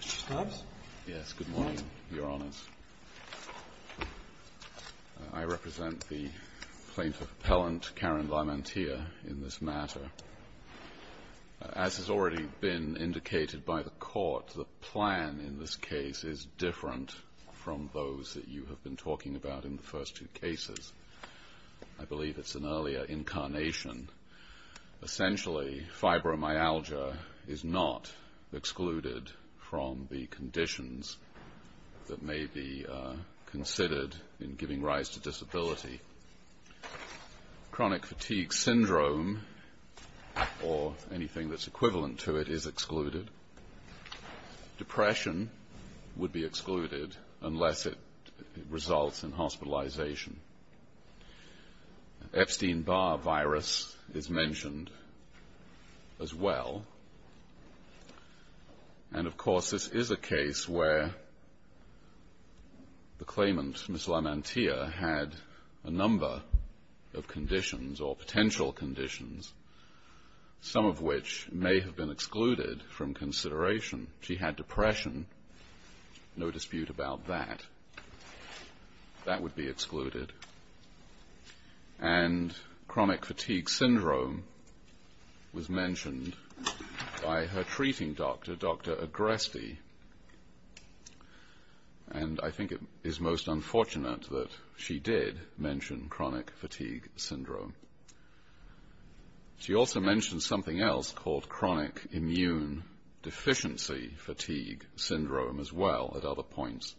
Mr. Stubbs? Yes, good morning, Your Honours. I represent the plaintiff appellant, Karen Lamantia, in this matter. As has already been indicated by the Court, the plan in this case is different from those that you have been talking about in the first two cases. I believe it's an earlier incarnation. Essentially, fibromyalgia is not excluded from the conditions that may be considered in giving rise to disability. Chronic fatigue syndrome, or anything that's equivalent to it, is excluded. Depression would be excluded unless it results in hospitalization. Epstein-Barr virus is mentioned as well. And, of course, this is a case where the claimant, Ms. Lamantia, had a number of conditions, or potential conditions, some of which may have been excluded from consideration. She had depression, no dispute about that. That would be excluded. And chronic fatigue syndrome was mentioned by her treating doctor, Dr. Agreste. And I think it is most unfortunate that she did mention chronic fatigue syndrome. She also mentioned something else called chronic immune deficiency fatigue syndrome as well at other points.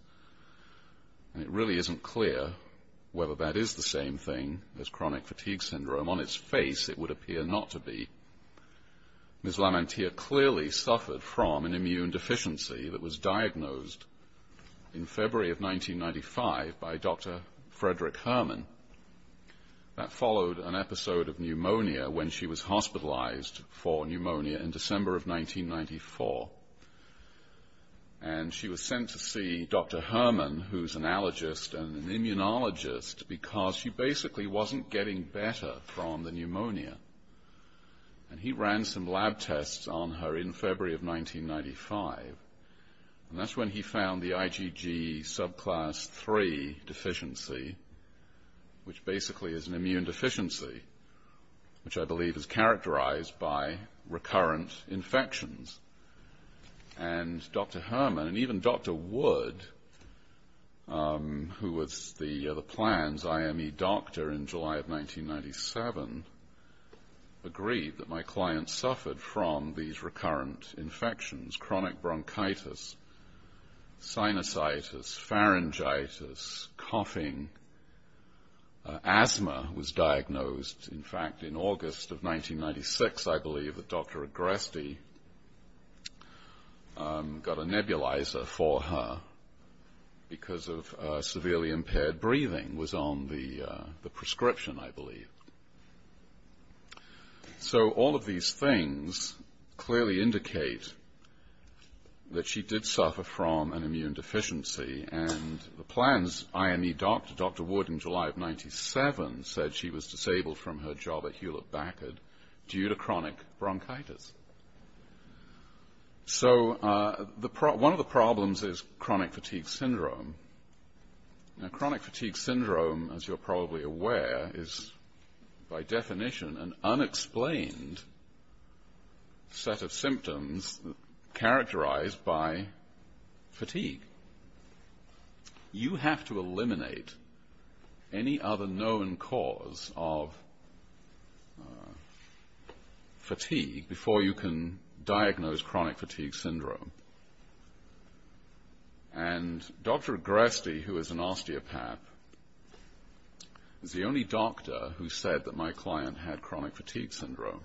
And it really isn't clear whether that is the same thing as chronic fatigue syndrome. On its face, it would appear not to be. Ms. Lamantia clearly suffered from an immune deficiency that was diagnosed in February of 1995 by Dr. Frederick Herman. That followed an episode of pneumonia when she was hospitalized for pneumonia in December of 1994. And she was sent to see Dr. Herman, who's an allergist and an immunologist, because she basically wasn't getting better from the pneumonia. And he ran some lab tests on her in February of 1995. And that's when he found the IgG subclass 3 deficiency. Which basically is an immune deficiency, which I believe is characterized by recurrent infections. And Dr. Herman, and even Dr. Wood, who was the plan's IME doctor in July of 1997, agreed that my client suffered from these recurrent infections. Chronic bronchitis, sinusitis, pharyngitis, coughing, asthma was diagnosed. In fact, in August of 1996, I believe, Dr. Agreste got a nebulizer for her because of severely impaired breathing was on the prescription, I believe. So, all of these things clearly indicate that she did suffer from an immune deficiency. And the plan's IME doctor, Dr. Wood, in July of 1997, said she was disabled from her job at Hewlett-Backard due to chronic bronchitis. So, one of the problems is chronic fatigue syndrome. Now, chronic fatigue syndrome, as you're probably aware, is by definition an unexplained set of symptoms characterized by fatigue. You have to eliminate any other known cause of fatigue before you can diagnose chronic fatigue syndrome. And Dr. Agreste, who is an osteopath, is the only doctor who said that my client had chronic fatigue syndrome.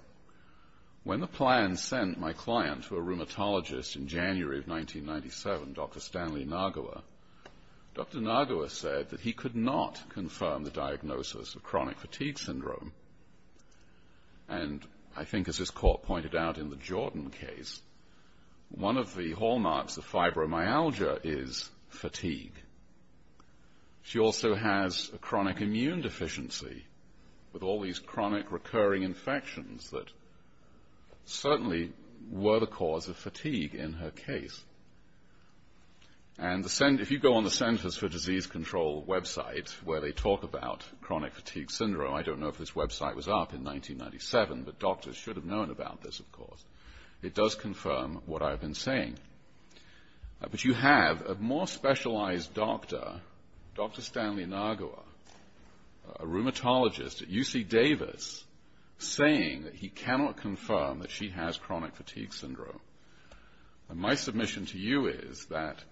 When the plan sent my client to a rheumatologist in January of 1997, Dr. Stanley Nagawa, Dr. Nagawa said that he could not confirm the diagnosis of chronic fatigue syndrome. And I think, as this court pointed out in the Jordan case, one of the hallmarks of fibromyalgia is fatigue. She also has a chronic immune deficiency with all these chronic recurring infections that certainly were the cause of fatigue in her case. And if you go on the Centers for Disease Control website where they talk about chronic fatigue syndrome, I don't know if this website was up in 1997, but doctors should have known about this, of course, it does confirm what I've been saying. But you have a more specialized doctor, Dr. Stanley Nagawa, a rheumatologist at UC Davis, saying that he cannot confirm that she has chronic fatigue syndrome. My submission to you is that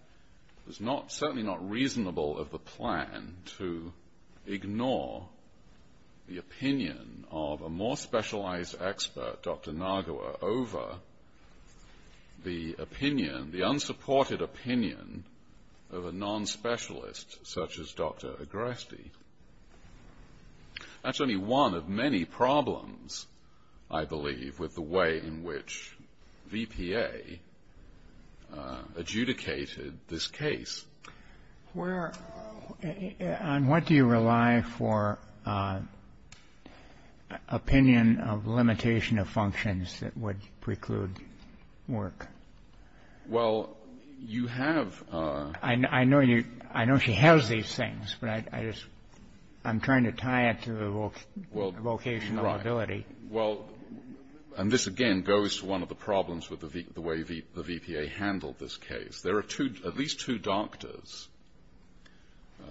it's certainly not reasonable of the plan to ignore the opinion of a more specialized expert, Dr. Nagawa, over the opinion, the unsupported opinion of a non-specialist such as Dr. Agreste. That's only one of many problems, I believe, with the way in which VPA adjudicated this case. Where, on what do you rely for opinion of limitation of functions that would preclude work? Well, you have. I know you, I know she has these things, but I just, I'm trying to tie it to the vocational ability. Well, and this again goes to one of the problems with the way the VPA handled this case. There are at least two doctors.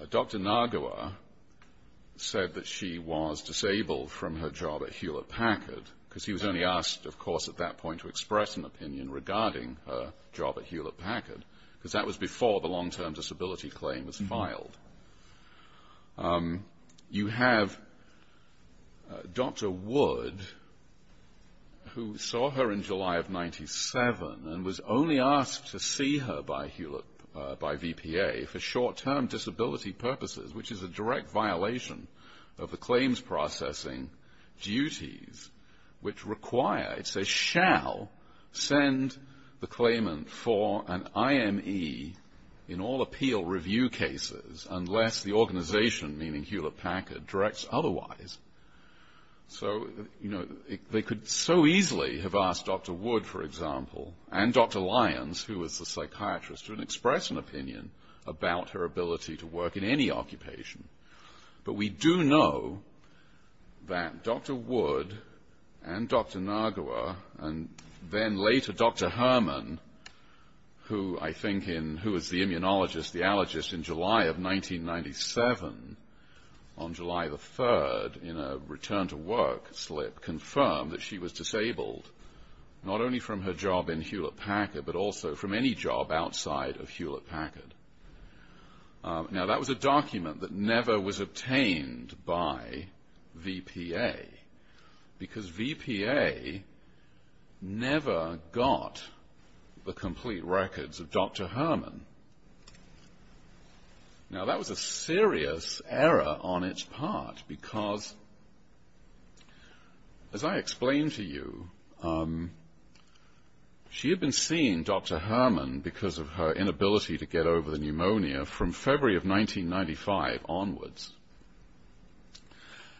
Dr. Nagawa said that she was disabled from her job at Hewlett-Packard, because he was only asked, of course, at that point to express an opinion regarding her job at Hewlett-Packard, because that was before the long-term disability claim was filed. You have Dr. Wood, who saw her in July of 97, and was only asked to see her by Hewlett, by VPA, for short-term disability purposes, which is a direct violation of the claims processing duties, which require, it says, shall send the claimant for an IME in all appeal review cases, unless the organization, meaning Hewlett-Packard, directs otherwise. So, you know, they could so easily have asked Dr. Wood, for example, and Dr. Lyons, who was the psychiatrist, to express an opinion about her ability to work in any occupation. But we do know that Dr. Wood and Dr. Nagawa, and then later Dr. Herman, who I think was the immunologist, the allergist, in July of 1997, on July the 3rd, in a return-to-work slip, confirmed that she was disabled, not only from her job in Hewlett-Packard, but also from any job outside of Hewlett-Packard. Now, that was a document that never was obtained by VPA, because VPA never got the complete records of Dr. Herman. Now, that was a serious error on its part, because, as I explained to you, she had been seeing Dr. Herman because of her inability to get over the pneumonia from February of 1995 onwards.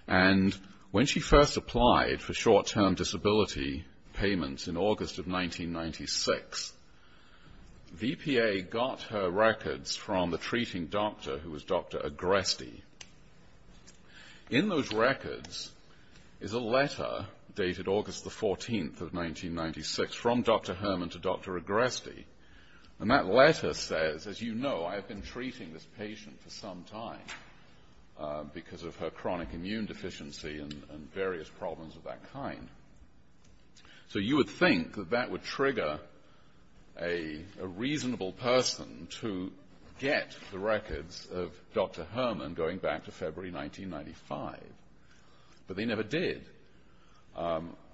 And when she first applied for short-term disability payments in August of 1996, VPA got her records from the treating doctor, who was Dr. Agreste. In those records is a letter dated August the 14th of 1996, from Dr. Herman to Dr. Agreste. And that letter says, as you know, I have been treating this patient for some time, because of her chronic immune deficiency and various problems of that kind. So you would think that that would trigger a reasonable person to get the records of Dr. Herman going back to February 1995. But they never did.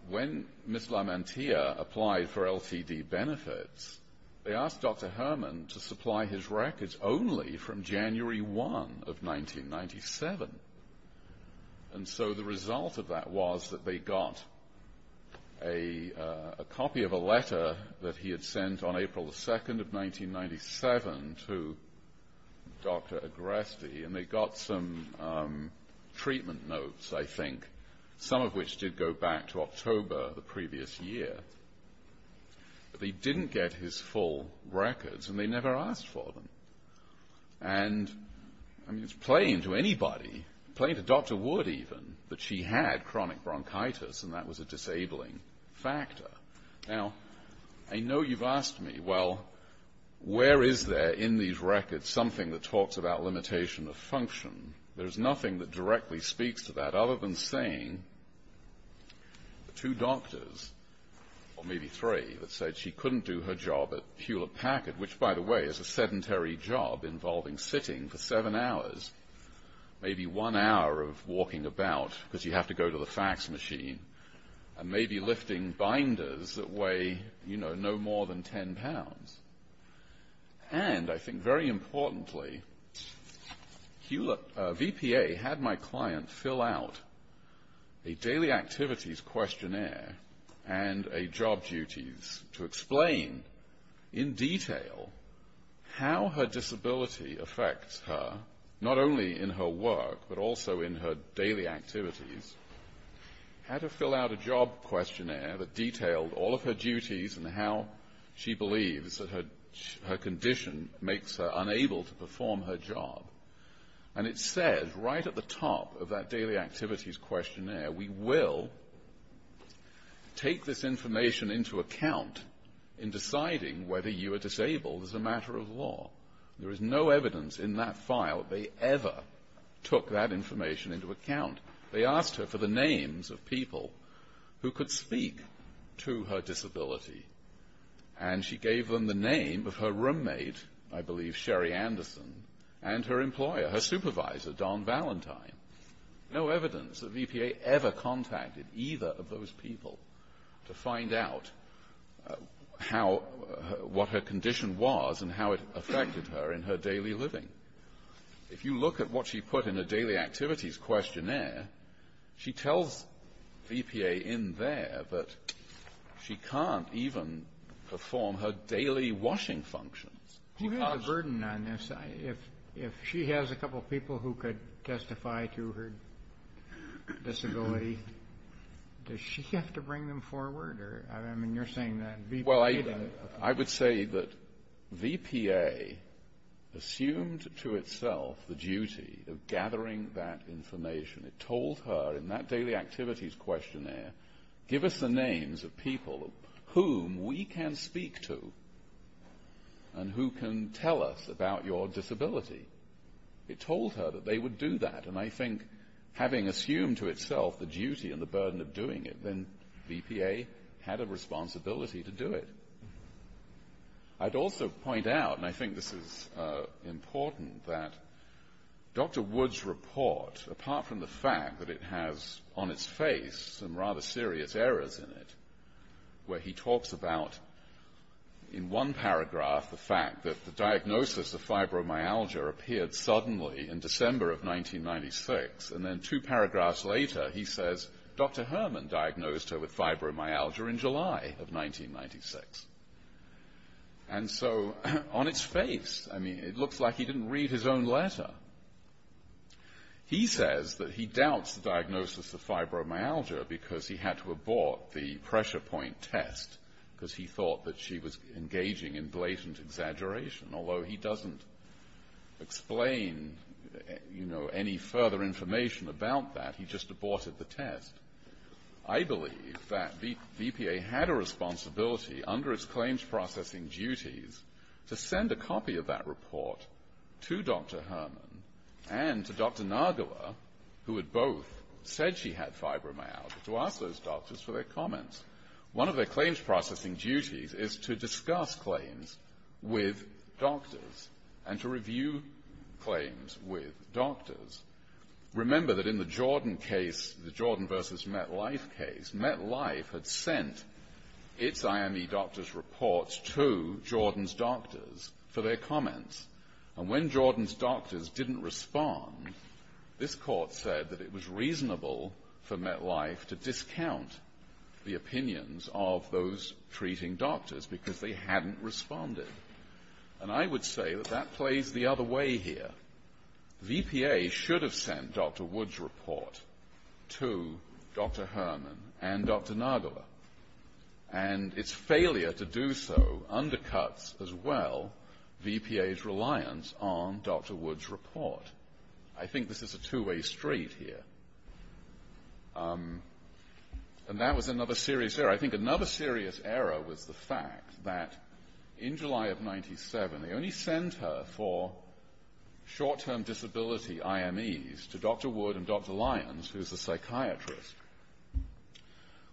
When Ms. Lamantia applied for LTD benefits, they asked Dr. Herman to supply his records only from January 1 of 1997. And so the result of that was that they got a copy of a letter that he had sent on April the 2nd of 1997 to Dr. Agreste, and they got some treatment notes, I think, some of which did go back to October the previous year. But they didn't get his full records, and they never asked for them. And, I mean, it's plain to anybody, plain to Dr. Wood even, that she had chronic bronchitis, and that was a disabling factor. Now, I know you've asked me, well, where is there in these records something that talks about limitation of function? There's nothing that directly speaks to that, other than saying the two doctors, or maybe three, that said she couldn't do her job at Hewlett Packard, which, by the way, is a sedentary job involving sitting for seven hours, maybe one hour of walking about because you have to go to the fax machine, and maybe lifting binders that weigh, you know, no more than 10 pounds. And, I think very importantly, VPA had my client fill out a daily activities questionnaire and a job duties to explain, in detail, how her disability affects her, not only in her work, but also in her daily activities. Had her fill out a job questionnaire that detailed all of her duties and how she believes that her condition makes her unable to perform her job. And it said, right at the top of that daily activities questionnaire, we will take this information into account in deciding whether you are disabled as a matter of law. There is no evidence in that file that they ever took that information into account. They asked her for the names of people who could speak to her disability. And she gave them the name of her roommate, I believe Sherry Anderson, and her employer, her supervisor, Don Valentine. No evidence that VPA ever contacted either of those people to find out what her condition was and how it affected her in her daily living. If you look at what she put in her daily activities questionnaire, she tells VPA in there that she can't even perform her daily washing functions. Who has a burden on this? If she has a couple of people who could testify to her disability, does she have to bring them forward? I mean, you're saying that VPA doesn't. I would say that VPA assumed to itself the duty of gathering that information. It told her in that daily activities questionnaire, give us the names of people whom we can speak to and who can tell us about your disability. It told her that they would do that, and I think having assumed to itself the duty and the burden of doing it, then VPA had a responsibility to do it. I'd also point out, and I think this is important, that Dr. Wood's report, apart from the fact that it has on its face some rather serious errors in it, where he talks about, in one paragraph, the fact that the diagnosis of fibromyalgia appeared suddenly in December of 1996, and then two paragraphs later he says, Dr. Herman diagnosed her with fibromyalgia in July of 1996. And so on its face, I mean, it looks like he didn't read his own letter. He says that he doubts the diagnosis of fibromyalgia because he had to abort the pressure point test because he thought that she was engaging in blatant exaggeration, although he doesn't explain, you know, any further information about that. He just aborted the test. I believe that VPA had a responsibility under its claims processing duties to send a copy of that report to Dr. Herman and to Dr. Nagala, who had both said she had fibromyalgia, to ask those doctors for their comments. One of their claims processing duties is to discuss claims with doctors and to review claims with doctors. Remember that in the Jordan case, the Jordan v. MetLife case, MetLife had sent its IME doctors' reports to Jordan's doctors for their comments. And when Jordan's doctors didn't respond, this court said that it was reasonable for MetLife to discount the opinions of those treating doctors because they hadn't responded. And I would say that that plays the other way here. VPA should have sent Dr. Wood's report to Dr. Herman and Dr. Nagala. And its failure to do so undercuts as well VPA's reliance on Dr. Wood's report. I think this is a two-way street here. And that was another serious error. I think another serious error was the fact that in July of 1997, they only sent her for short-term disability IMEs to Dr. Wood and Dr. Lyons, who's a psychiatrist,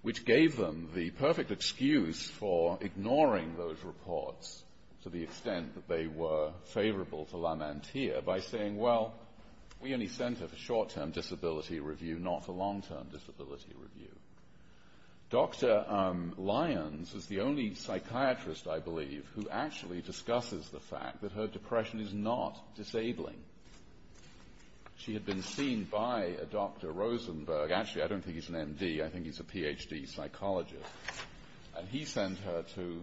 which gave them the perfect excuse for ignoring those reports to the extent that they were favorable to Lamantia by saying, well, we only sent her for short-term disability review, not for long-term disability review. Dr. Lyons is the only psychiatrist, I believe, who actually discusses the fact that her depression is not disabling. She had been seen by a Dr. Rosenberg. Actually, I don't think he's an MD. I think he's a PhD psychologist. And he sent her to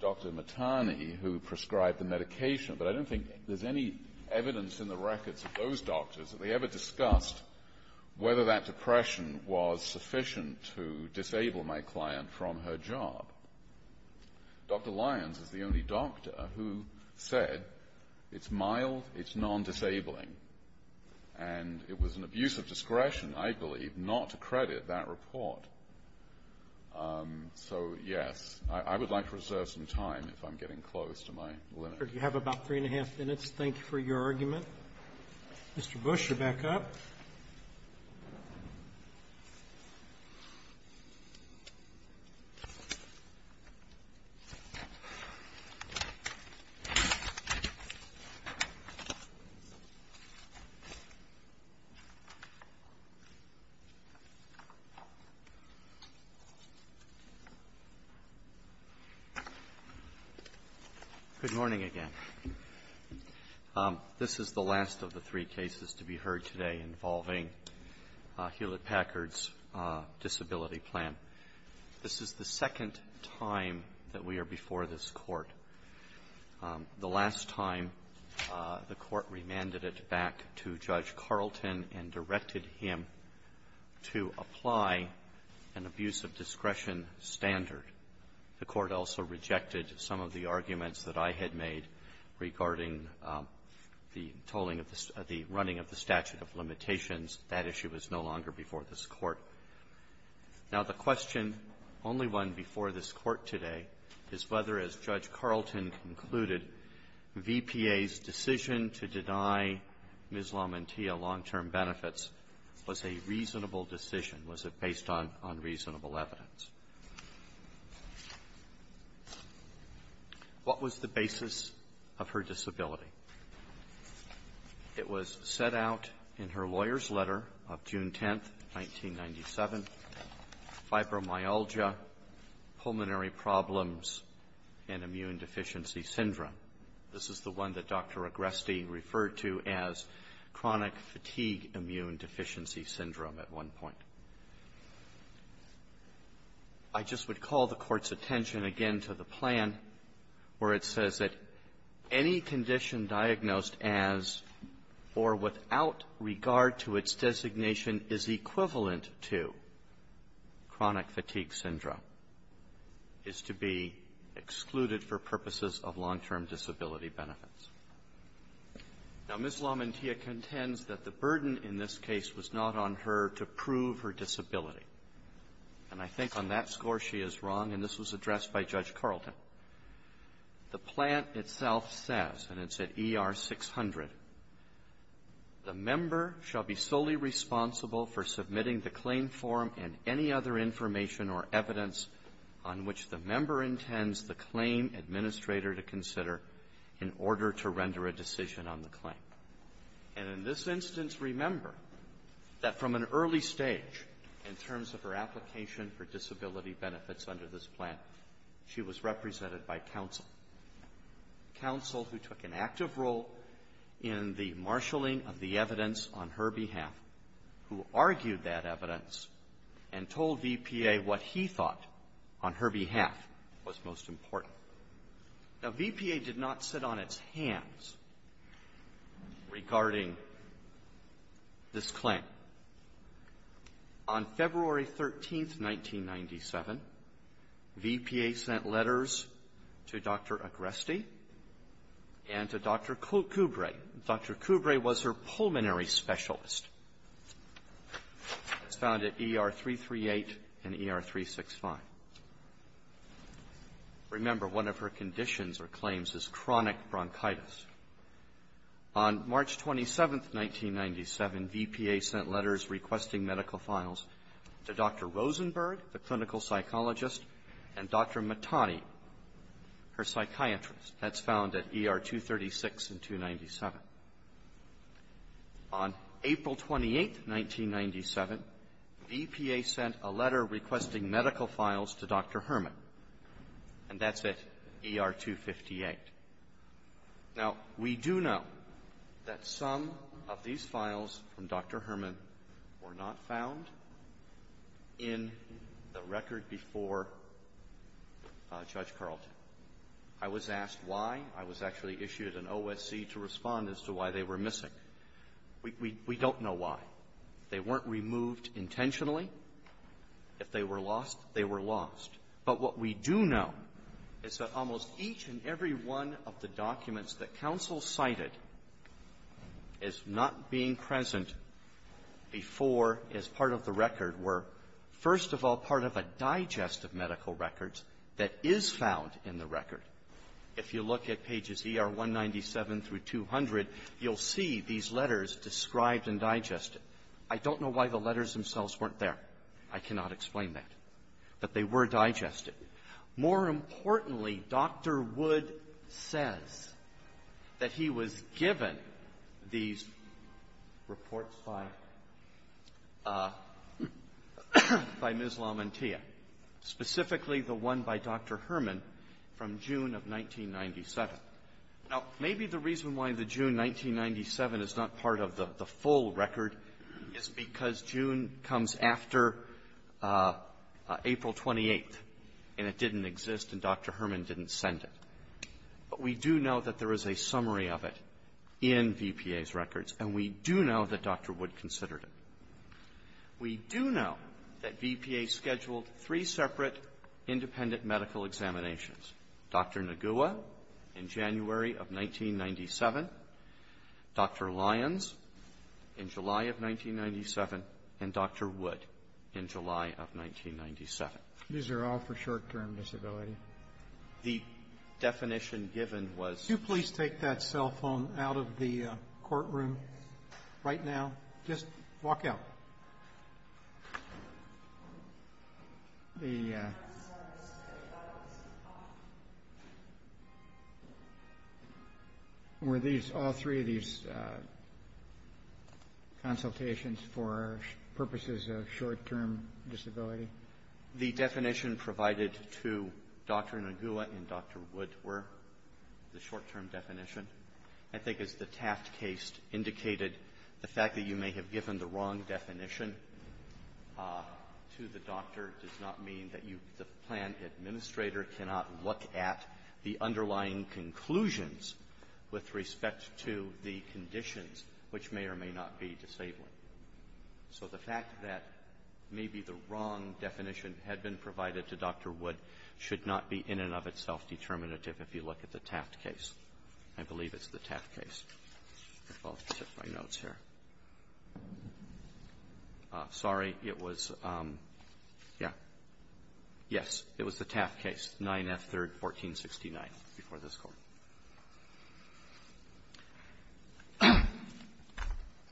Dr. Mattani, who prescribed the medication. But I don't think there's any evidence in the records of those doctors that they ever discussed whether that depression was sufficient to disable my client from her job. Dr. Lyons is the only doctor who said it's mild, it's non-disabling. And it was an abuse of discretion, I believe, not to credit that report. So, yes. I would like to reserve some time if I'm getting close to my limit. Roberts. You have about three and a half minutes. Thank you for your argument. Mr. Bush, you're back up. Good morning again. This is the last of the three cases to be heard today involving Hewlett-Packard's disability plan. This is the second time that we are before this Court. The last time, the Court remanded it back to Judge Carlton and directed him to apply an abuse of discretion standard. The Court also rejected some of the arguments that I had made regarding the tolling of the statute of limitations. That issue is no longer before this Court. Now, the question, only one before this Court today, is whether, as Judge Carlton concluded, VPA's decision to deny Ms. LaMantia long-term benefits was a reasonable decision. Was it based on reasonable evidence? What was the basis of her disability? It was set out in her lawyer's letter of June 10, 1997, fibromyalgia, pulmonary problems, and immune deficiency syndrome. This is the one that Dr. Agreste referred to as chronic fatigue immune deficiency syndrome at one point. I just would call the Court's attention again to the plan where it says that any condition diagnosed as or without regard to its designation is equivalent to chronic fatigue syndrome is to be excluded for purposes of long-term disability benefits. Now, Ms. LaMantia contends that the burden in this case was not on her to prove her disability. And I think on that score she is wrong, and this was addressed by Judge Carlton. The plan itself says, and it's at ER 600, the member shall be solely responsible for submitting the claim form and any other information or evidence on which the claim. And in this instance, remember that from an early stage, in terms of her application for disability benefits under this plan, she was represented by counsel, counsel who took an active role in the marshaling of the evidence on her behalf, who argued that evidence and told VPA what he thought on her behalf was most important. Now, VPA did not sit on its hands regarding this claim. On February 13th, 1997, VPA sent letters to Dr. Agresti and to Dr. Coubré. Dr. Coubré was her pulmonary specialist. It's found at ER 338 and ER 365. Remember, one of her conditions or claims is chronic bronchitis. On March 27th, 1997, VPA sent letters requesting medical files to Dr. Rosenberg, the clinical psychologist, and Dr. Matani, her psychiatrist. That's found at ER 236 and 297. On April 28th, 1997, VPA sent a letter requesting medical files to Dr. Herman, and that's at ER 258. Now, we do know that some of these files from Dr. Herman were not found in the record before Judge Carlton. I was asked why. I was actually issued an OSC to respond as to why they were missing. We don't know why. They weren't removed intentionally. If they were lost, they were lost. But what we do know is that almost each and every one of the documents that counsel cited as not being present before as part of the record were, first of all, part of a digest of medical records that is found in the record. If you look at pages ER 197 through 200, you'll see these letters described and digested. I don't know why the letters themselves weren't there. I cannot explain that. But they were digested. More importantly, Dr. Wood says that he was given these reports by Ms. Lamantia, specifically the one by Dr. Herman from June of 1997. Now, maybe the reason why the June 1997 is not part of the full record is because June comes after April 28th, and it didn't exist, and Dr. Herman didn't send it. But we do know that there is a summary of it in VPA's records, and we do know that Dr. Wood considered it. We do know that VPA scheduled three separate independent medical examinations, Dr. Nagua in January of 1997, Dr. Lyons in July of 1997, and Dr. Wood in July of 1997. These are all for short-term disability. The definition given was Could you please take that cell phone out of the courtroom right now? Just walk out. Were all three of these consultations for purposes of short-term disability? The definition provided to Dr. Nagua and Dr. Wood were the short-term definition. I think as the Taft case indicated, the fact that you may have given the wrong definition to the doctor does not mean that you, the plan administrator, cannot look at the underlying conclusions with respect to the conditions which may or may not be disabling. So the fact that maybe the wrong definition had been provided to Dr. Wood should not be in and of itself determinative if you look at the Taft case. I believe it's the Taft case. I'll check my notes here. Sorry. It was, yeah. Yes. It was the Taft case, 9F, 3rd, 1469, before this Court.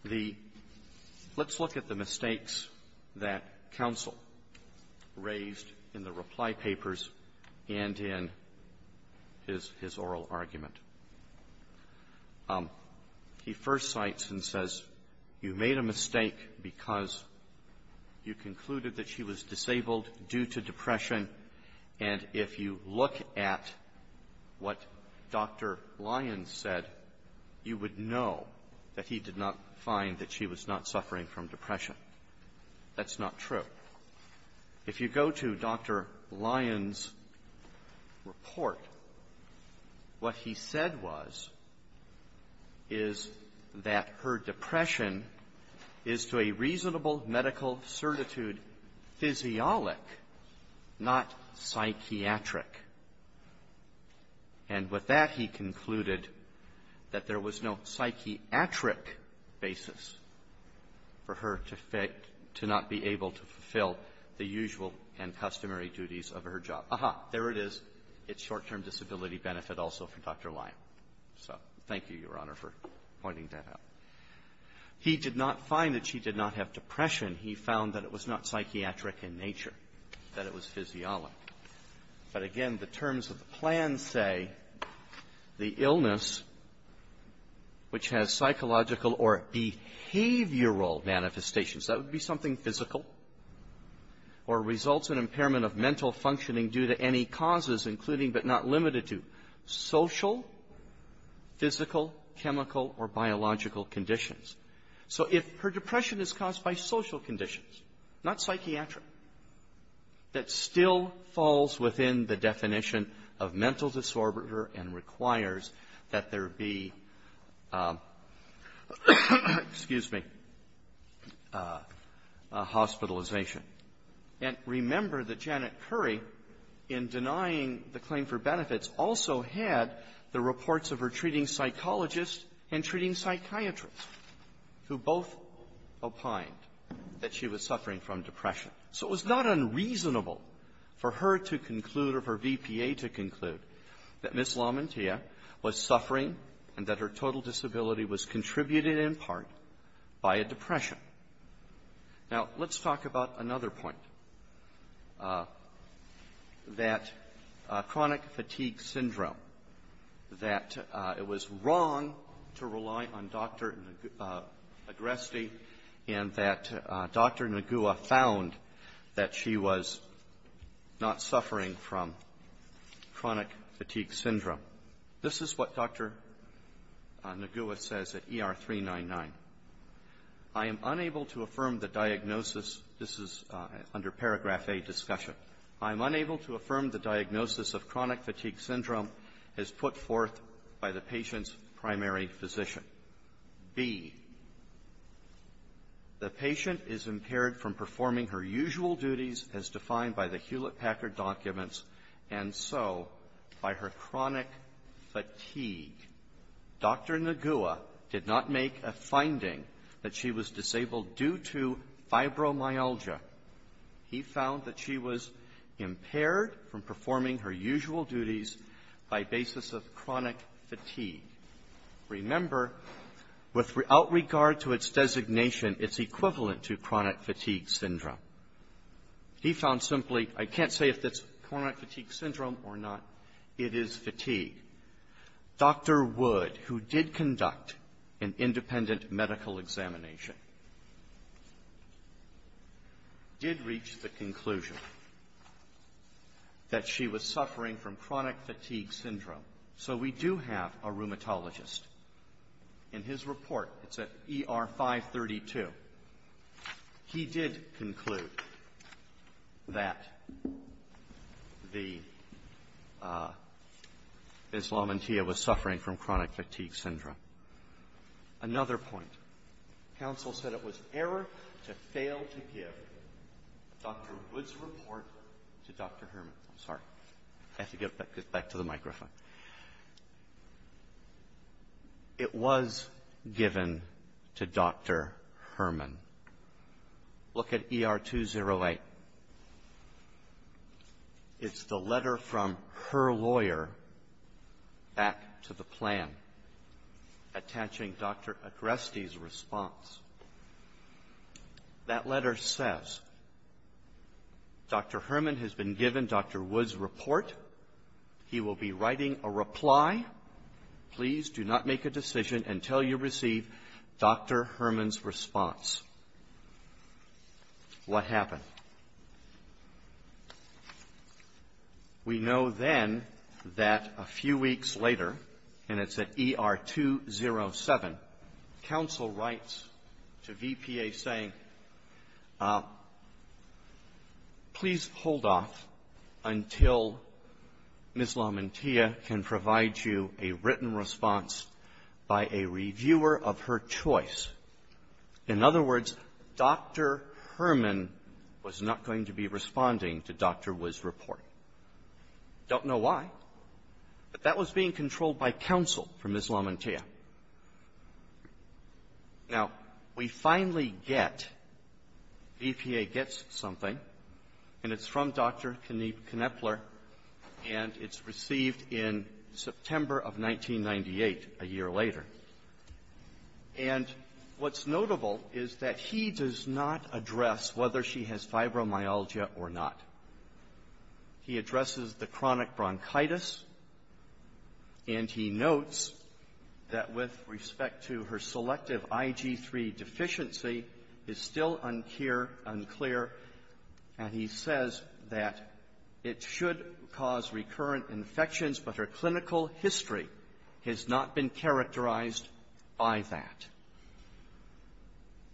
The let's look at the mistakes that counsel raised in the reply papers and in his oral argument. He first cites and says, you made a mistake because you concluded that she was disabled due to depression. And Dr. Lyons said you would know that he did not find that she was not suffering from depression. That's not true. If you go to Dr. Lyons' report, what he said was is that her depression is to a reasonable medical certitude physiolic, not psychiatric. And with that, he concluded that there was no psychiatric basis for her to not be able to fulfill the usual and customary duties of her job. Aha, there it is. It's short-term disability benefit also for Dr. Lyons. So thank you, Your Honor, for pointing that out. He did not find that she did not have depression. He found that it was not psychiatric in nature, that it was physiolic. But again, the terms of the plan say the illness, which has psychological or behavioral manifestations, that would be something physical, or results in impairment of mental functioning due to any causes, including but not limited to social, physical, chemical, or biological conditions. So if her depression is caused by social conditions, not psychiatric, that still falls within the definition of mental disorder and requires that there be, excuse me, hospitalization. And remember that Janet Currie, in denying the claim for benefits, also had the reports of her treating psychologists and treating psychiatrists, who both opined that she was suffering from depression. So it was not unreasonable for her to conclude or for VPA to conclude that Ms. Lamantia was suffering and that her total disability was contributed in part by a depression. Now, let's talk about another point, that chronic fatigue syndrome, that it was wrong to rely on Dr. Agresti and that Dr. Nagua found that she was not suffering from chronic fatigue syndrome. This is what Dr. Nagua says at ER 399. I am unable to affirm the diagnosis. This is under paragraph A, discussion. I am unable to affirm the diagnosis of chronic fatigue syndrome as put forth by the patient's primary physician. B, the patient is impaired from performing her usual duties as defined by the Hewlett-Packard documents, and so by her chronic fatigue. Dr. Nagua did not make a finding that she was disabled due to fibromyalgia. He found that she was impaired from performing her usual duties by basis of chronic fatigue. Remember, without regard to its designation, it's equivalent to chronic fatigue syndrome. He found simply, I can't say if it's chronic fatigue syndrome or not, it is fatigue. Dr. Wood, who did conduct an independent medical examination, did reach the conclusion that she was suffering from chronic fatigue syndrome. So we do have a rheumatologist. In his report, it's at ER 532, he did conclude that the Islamantia was suffering from chronic fatigue syndrome. Another point. Counsel said it was error to fail to give Dr. Wood's report to Dr. Herman. I'm sorry. I have to get back to the microphone. It was given to Dr. Herman. Look at ER 208. It's the letter from her lawyer back to the plan attaching Dr. Agreste's response. That letter says, Dr. Herman has been given Dr. Wood's report. He will be writing a reply. Please do not make a decision until you receive Dr. Herman's response. What happened? We know then that a few weeks later, and it's at ER 207, counsel writes to VPA saying, please hold off until Islamantia can provide you a written response by a In other words, Dr. Herman was not going to be responding to Dr. Wood's report. Don't know why, but that was being controlled by counsel from Islamantia. Now, we finally get, VPA gets something, and it's from Dr. Kneppler, and it's September of 1998, a year later. And what's notable is that he does not address whether she has fibromyalgia or not. He addresses the chronic bronchitis, and he notes that with respect to her selective IG3 deficiency, it's still unclear, and he says that it should cause recurrent infections, but her clinical history has not been characterized by that.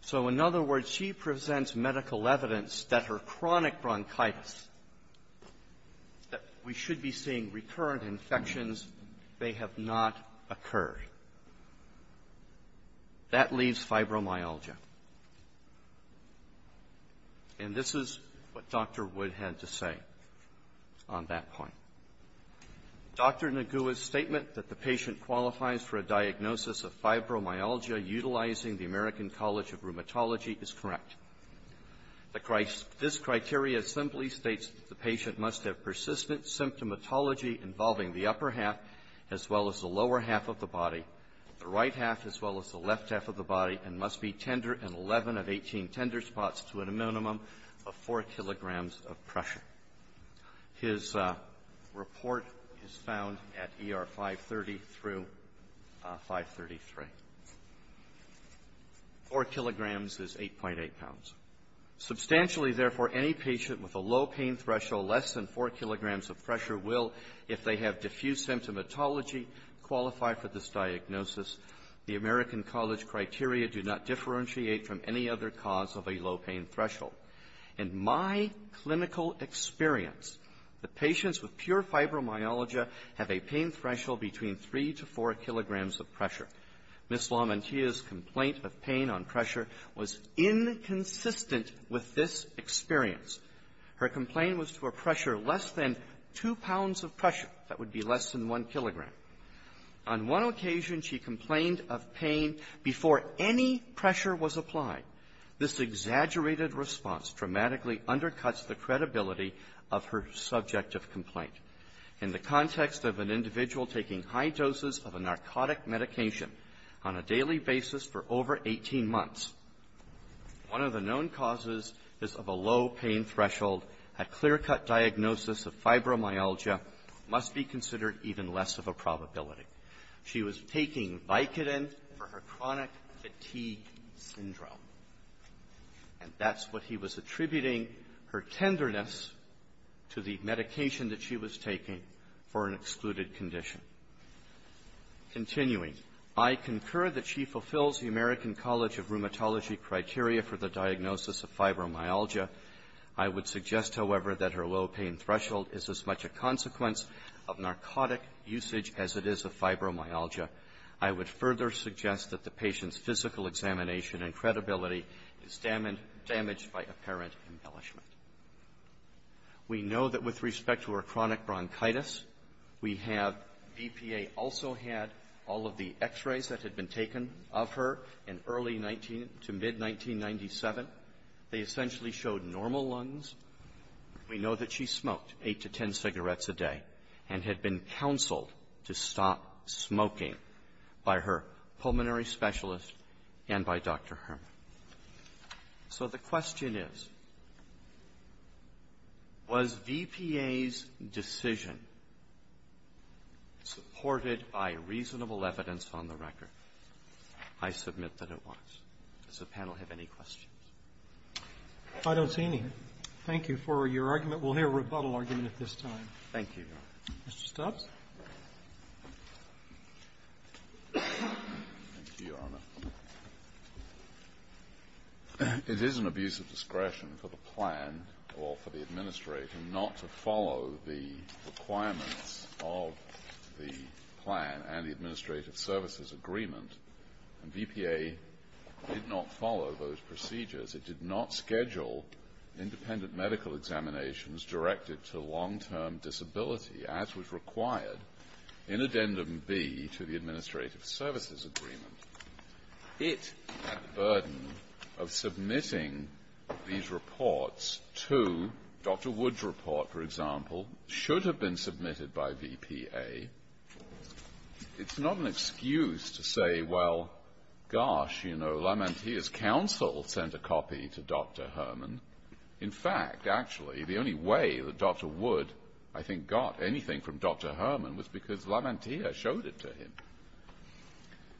So, in other words, she presents medical evidence that her chronic bronchitis, that we should be seeing recurrent infections, may have not occurred. That leaves fibromyalgia. And this is what Dr. Wood had to say on that point. Dr. Nagua's statement that the patient qualifies for a diagnosis of fibromyalgia utilizing the American College of Rheumatology is correct. This criteria simply states that the patient must have persistent symptomatology involving the upper half as well as the lower half of the body, the right half as well as the left half of the body, and must be tender in 11 of 18 tender spots to a minimum of 4 kilograms of pressure. His report is found at ER 530 through 533. Four kilograms is 8.8 pounds. Substantially, therefore, any patient with a low pain threshold less than 4 kilograms of pressure will, if they have diffuse symptomatology, qualify for this diagnosis. The American College criteria do not differentiate from any other cause of a low pain threshold. In my clinical experience, the patients with pure fibromyalgia have a pain threshold between 3 to 4 kilograms of pressure. Ms. Lamantia's complaint of pain on pressure was inconsistent with this experience. Her complaint was for pressure less than 2 pounds of pressure. That would be less than 1 kilogram. On one occasion, she complained of pain before any pressure was applied. This exaggerated response dramatically undercuts the credibility of her subject of complaint. In the context of an individual taking high doses of a narcotic medication on a daily basis for over 18 months, one of the known causes is of a low pain threshold. A clear-cut diagnosis of fibromyalgia must be considered even less of a probability. She was taking Vicodin for her chronic fatigue syndrome, and that's what he was attributing her tenderness to the medication that she was taking for an excluded condition. Continuing, I concur that she fulfills the American College of Rheumatology criteria for the diagnosis of fibromyalgia. I would suggest, however, that her low pain threshold is as much a consequence of narcotic usage as it is of fibromyalgia. I would further suggest that the patient's physical examination and credibility is damaged by apparent embellishment. We know that with respect to her chronic bronchitis, we have DPA also had all of the 19 to mid-1997. They essentially showed normal lungs. We know that she smoked eight to ten cigarettes a day and had been counseled to stop smoking by her pulmonary specialist and by Dr. Herman. So the question is, was VPA's decision supported by reasonable evidence on the record? I submit that it was. Does the panel have any questions? Roberts. I don't see any. Thank you for your argument. We'll hear a rebuttal argument at this time. Thank you, Your Honor. Mr. Stubbs. Thank you, Your Honor. It is an abuse of discretion for the plan or for the administrator not to follow the requirements of the plan and the administrative services agreement. And VPA did not follow those procedures. It did not schedule independent medical examinations directed to long-term disability as was required in addendum B to the administrative services agreement. It, that burden of submitting these reports to Dr. Wood's report, for example, should have been submitted by VPA. It's not an excuse to say, well, gosh, you know, LaMantia's counsel sent a copy to Dr. Herman. In fact, actually, the only way that Dr. Wood, I think, got anything from Dr. Herman was because LaMantia showed it to him.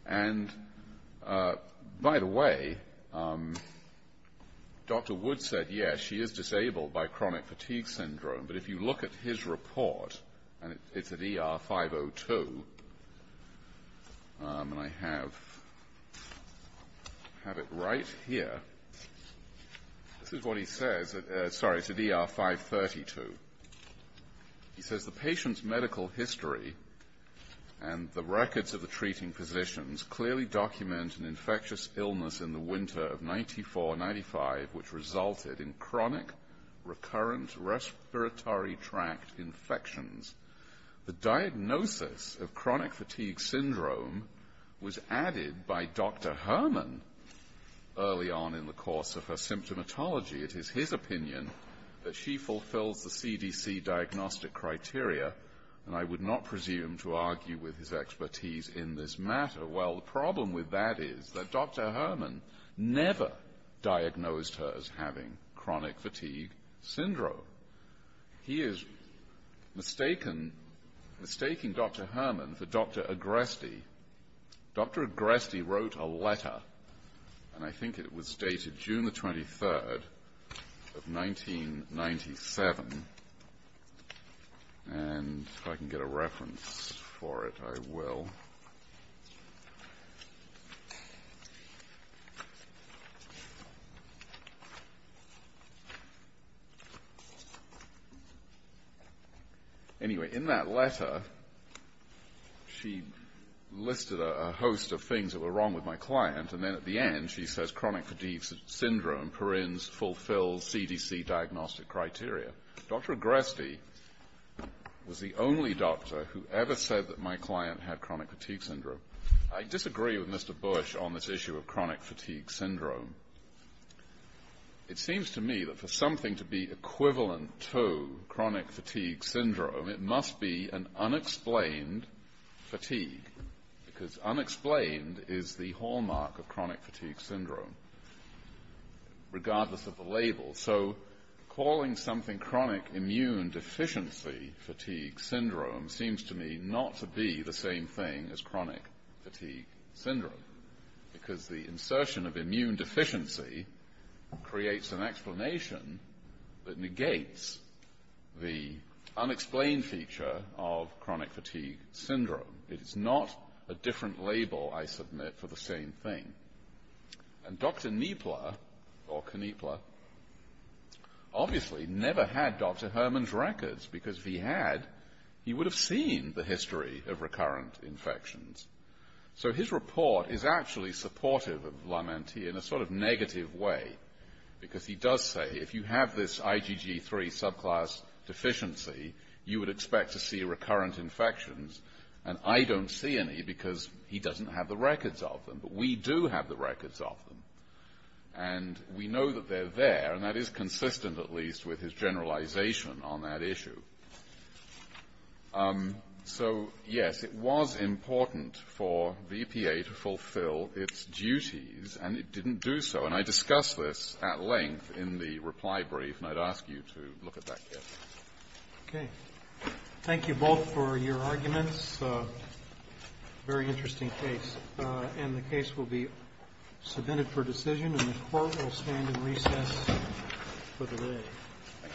And by the way, Dr. Wood said, yes, she is disabled by chronic fatigue syndrome, but if you look at his report, and it's at ER 502, and I have it right here, this is what he says. He says, the patient's medical history and the records of the treating physicians clearly document an infectious illness in the winter of 94, 95, which resulted in chronic recurrent respiratory tract infections. The diagnosis of chronic fatigue syndrome was added by Dr. Herman early on in the course of her symptomatology. It is his opinion that she fulfills the CDC diagnostic criteria, and I would not presume to argue with his expertise in this matter. Well, the problem with that is that Dr. Herman never diagnosed her as having chronic fatigue syndrome. He is mistaking Dr. Herman for Dr. Agresti. Dr. Agresti wrote a letter, and I think it was dated June the 23rd of 1997, and if I Anyway, in that letter, she listed a host of things that were wrong with my client, and then at the end, she says chronic fatigue syndrome perins fulfills CDC diagnostic criteria. Dr. Agresti was the only doctor who ever said that my client had chronic fatigue syndrome. I disagree with Mr. Bush on this issue of chronic fatigue syndrome. It seems to me that for something to be equivalent to chronic fatigue syndrome, it must be an unexplained fatigue, because unexplained is the hallmark of chronic fatigue syndrome, regardless of the label. So calling something chronic immune deficiency fatigue syndrome seems to me not to be the same thing as chronic fatigue syndrome, because the insertion of immune deficiency creates an explanation that negates the unexplained feature of chronic fatigue syndrome. It is not a different label, I submit, for the same thing. And Dr. Kneepler, or Kneepler, obviously never had Dr. Herman's records, because if he had, he would have seen the history of recurrent infections. So his report is actually supportive of Lamenti in a sort of negative way, because he does say if you have this IgG3 subclass deficiency, you would expect to see recurrent infections, and I don't see any because he doesn't have the records of them. But we do have the records of them, and we know that they're there, and that is consistent at least with his generalization on that issue. So, yes, it was important for the EPA to fulfill its duties, and it didn't do so. And I discussed this at length in the reply brief, and I'd ask you to look at that case. Roberts. Okay. Thank you both for your arguments. Very interesting case. And the case will be submitted for decision, and the Court will stand in recess for the day.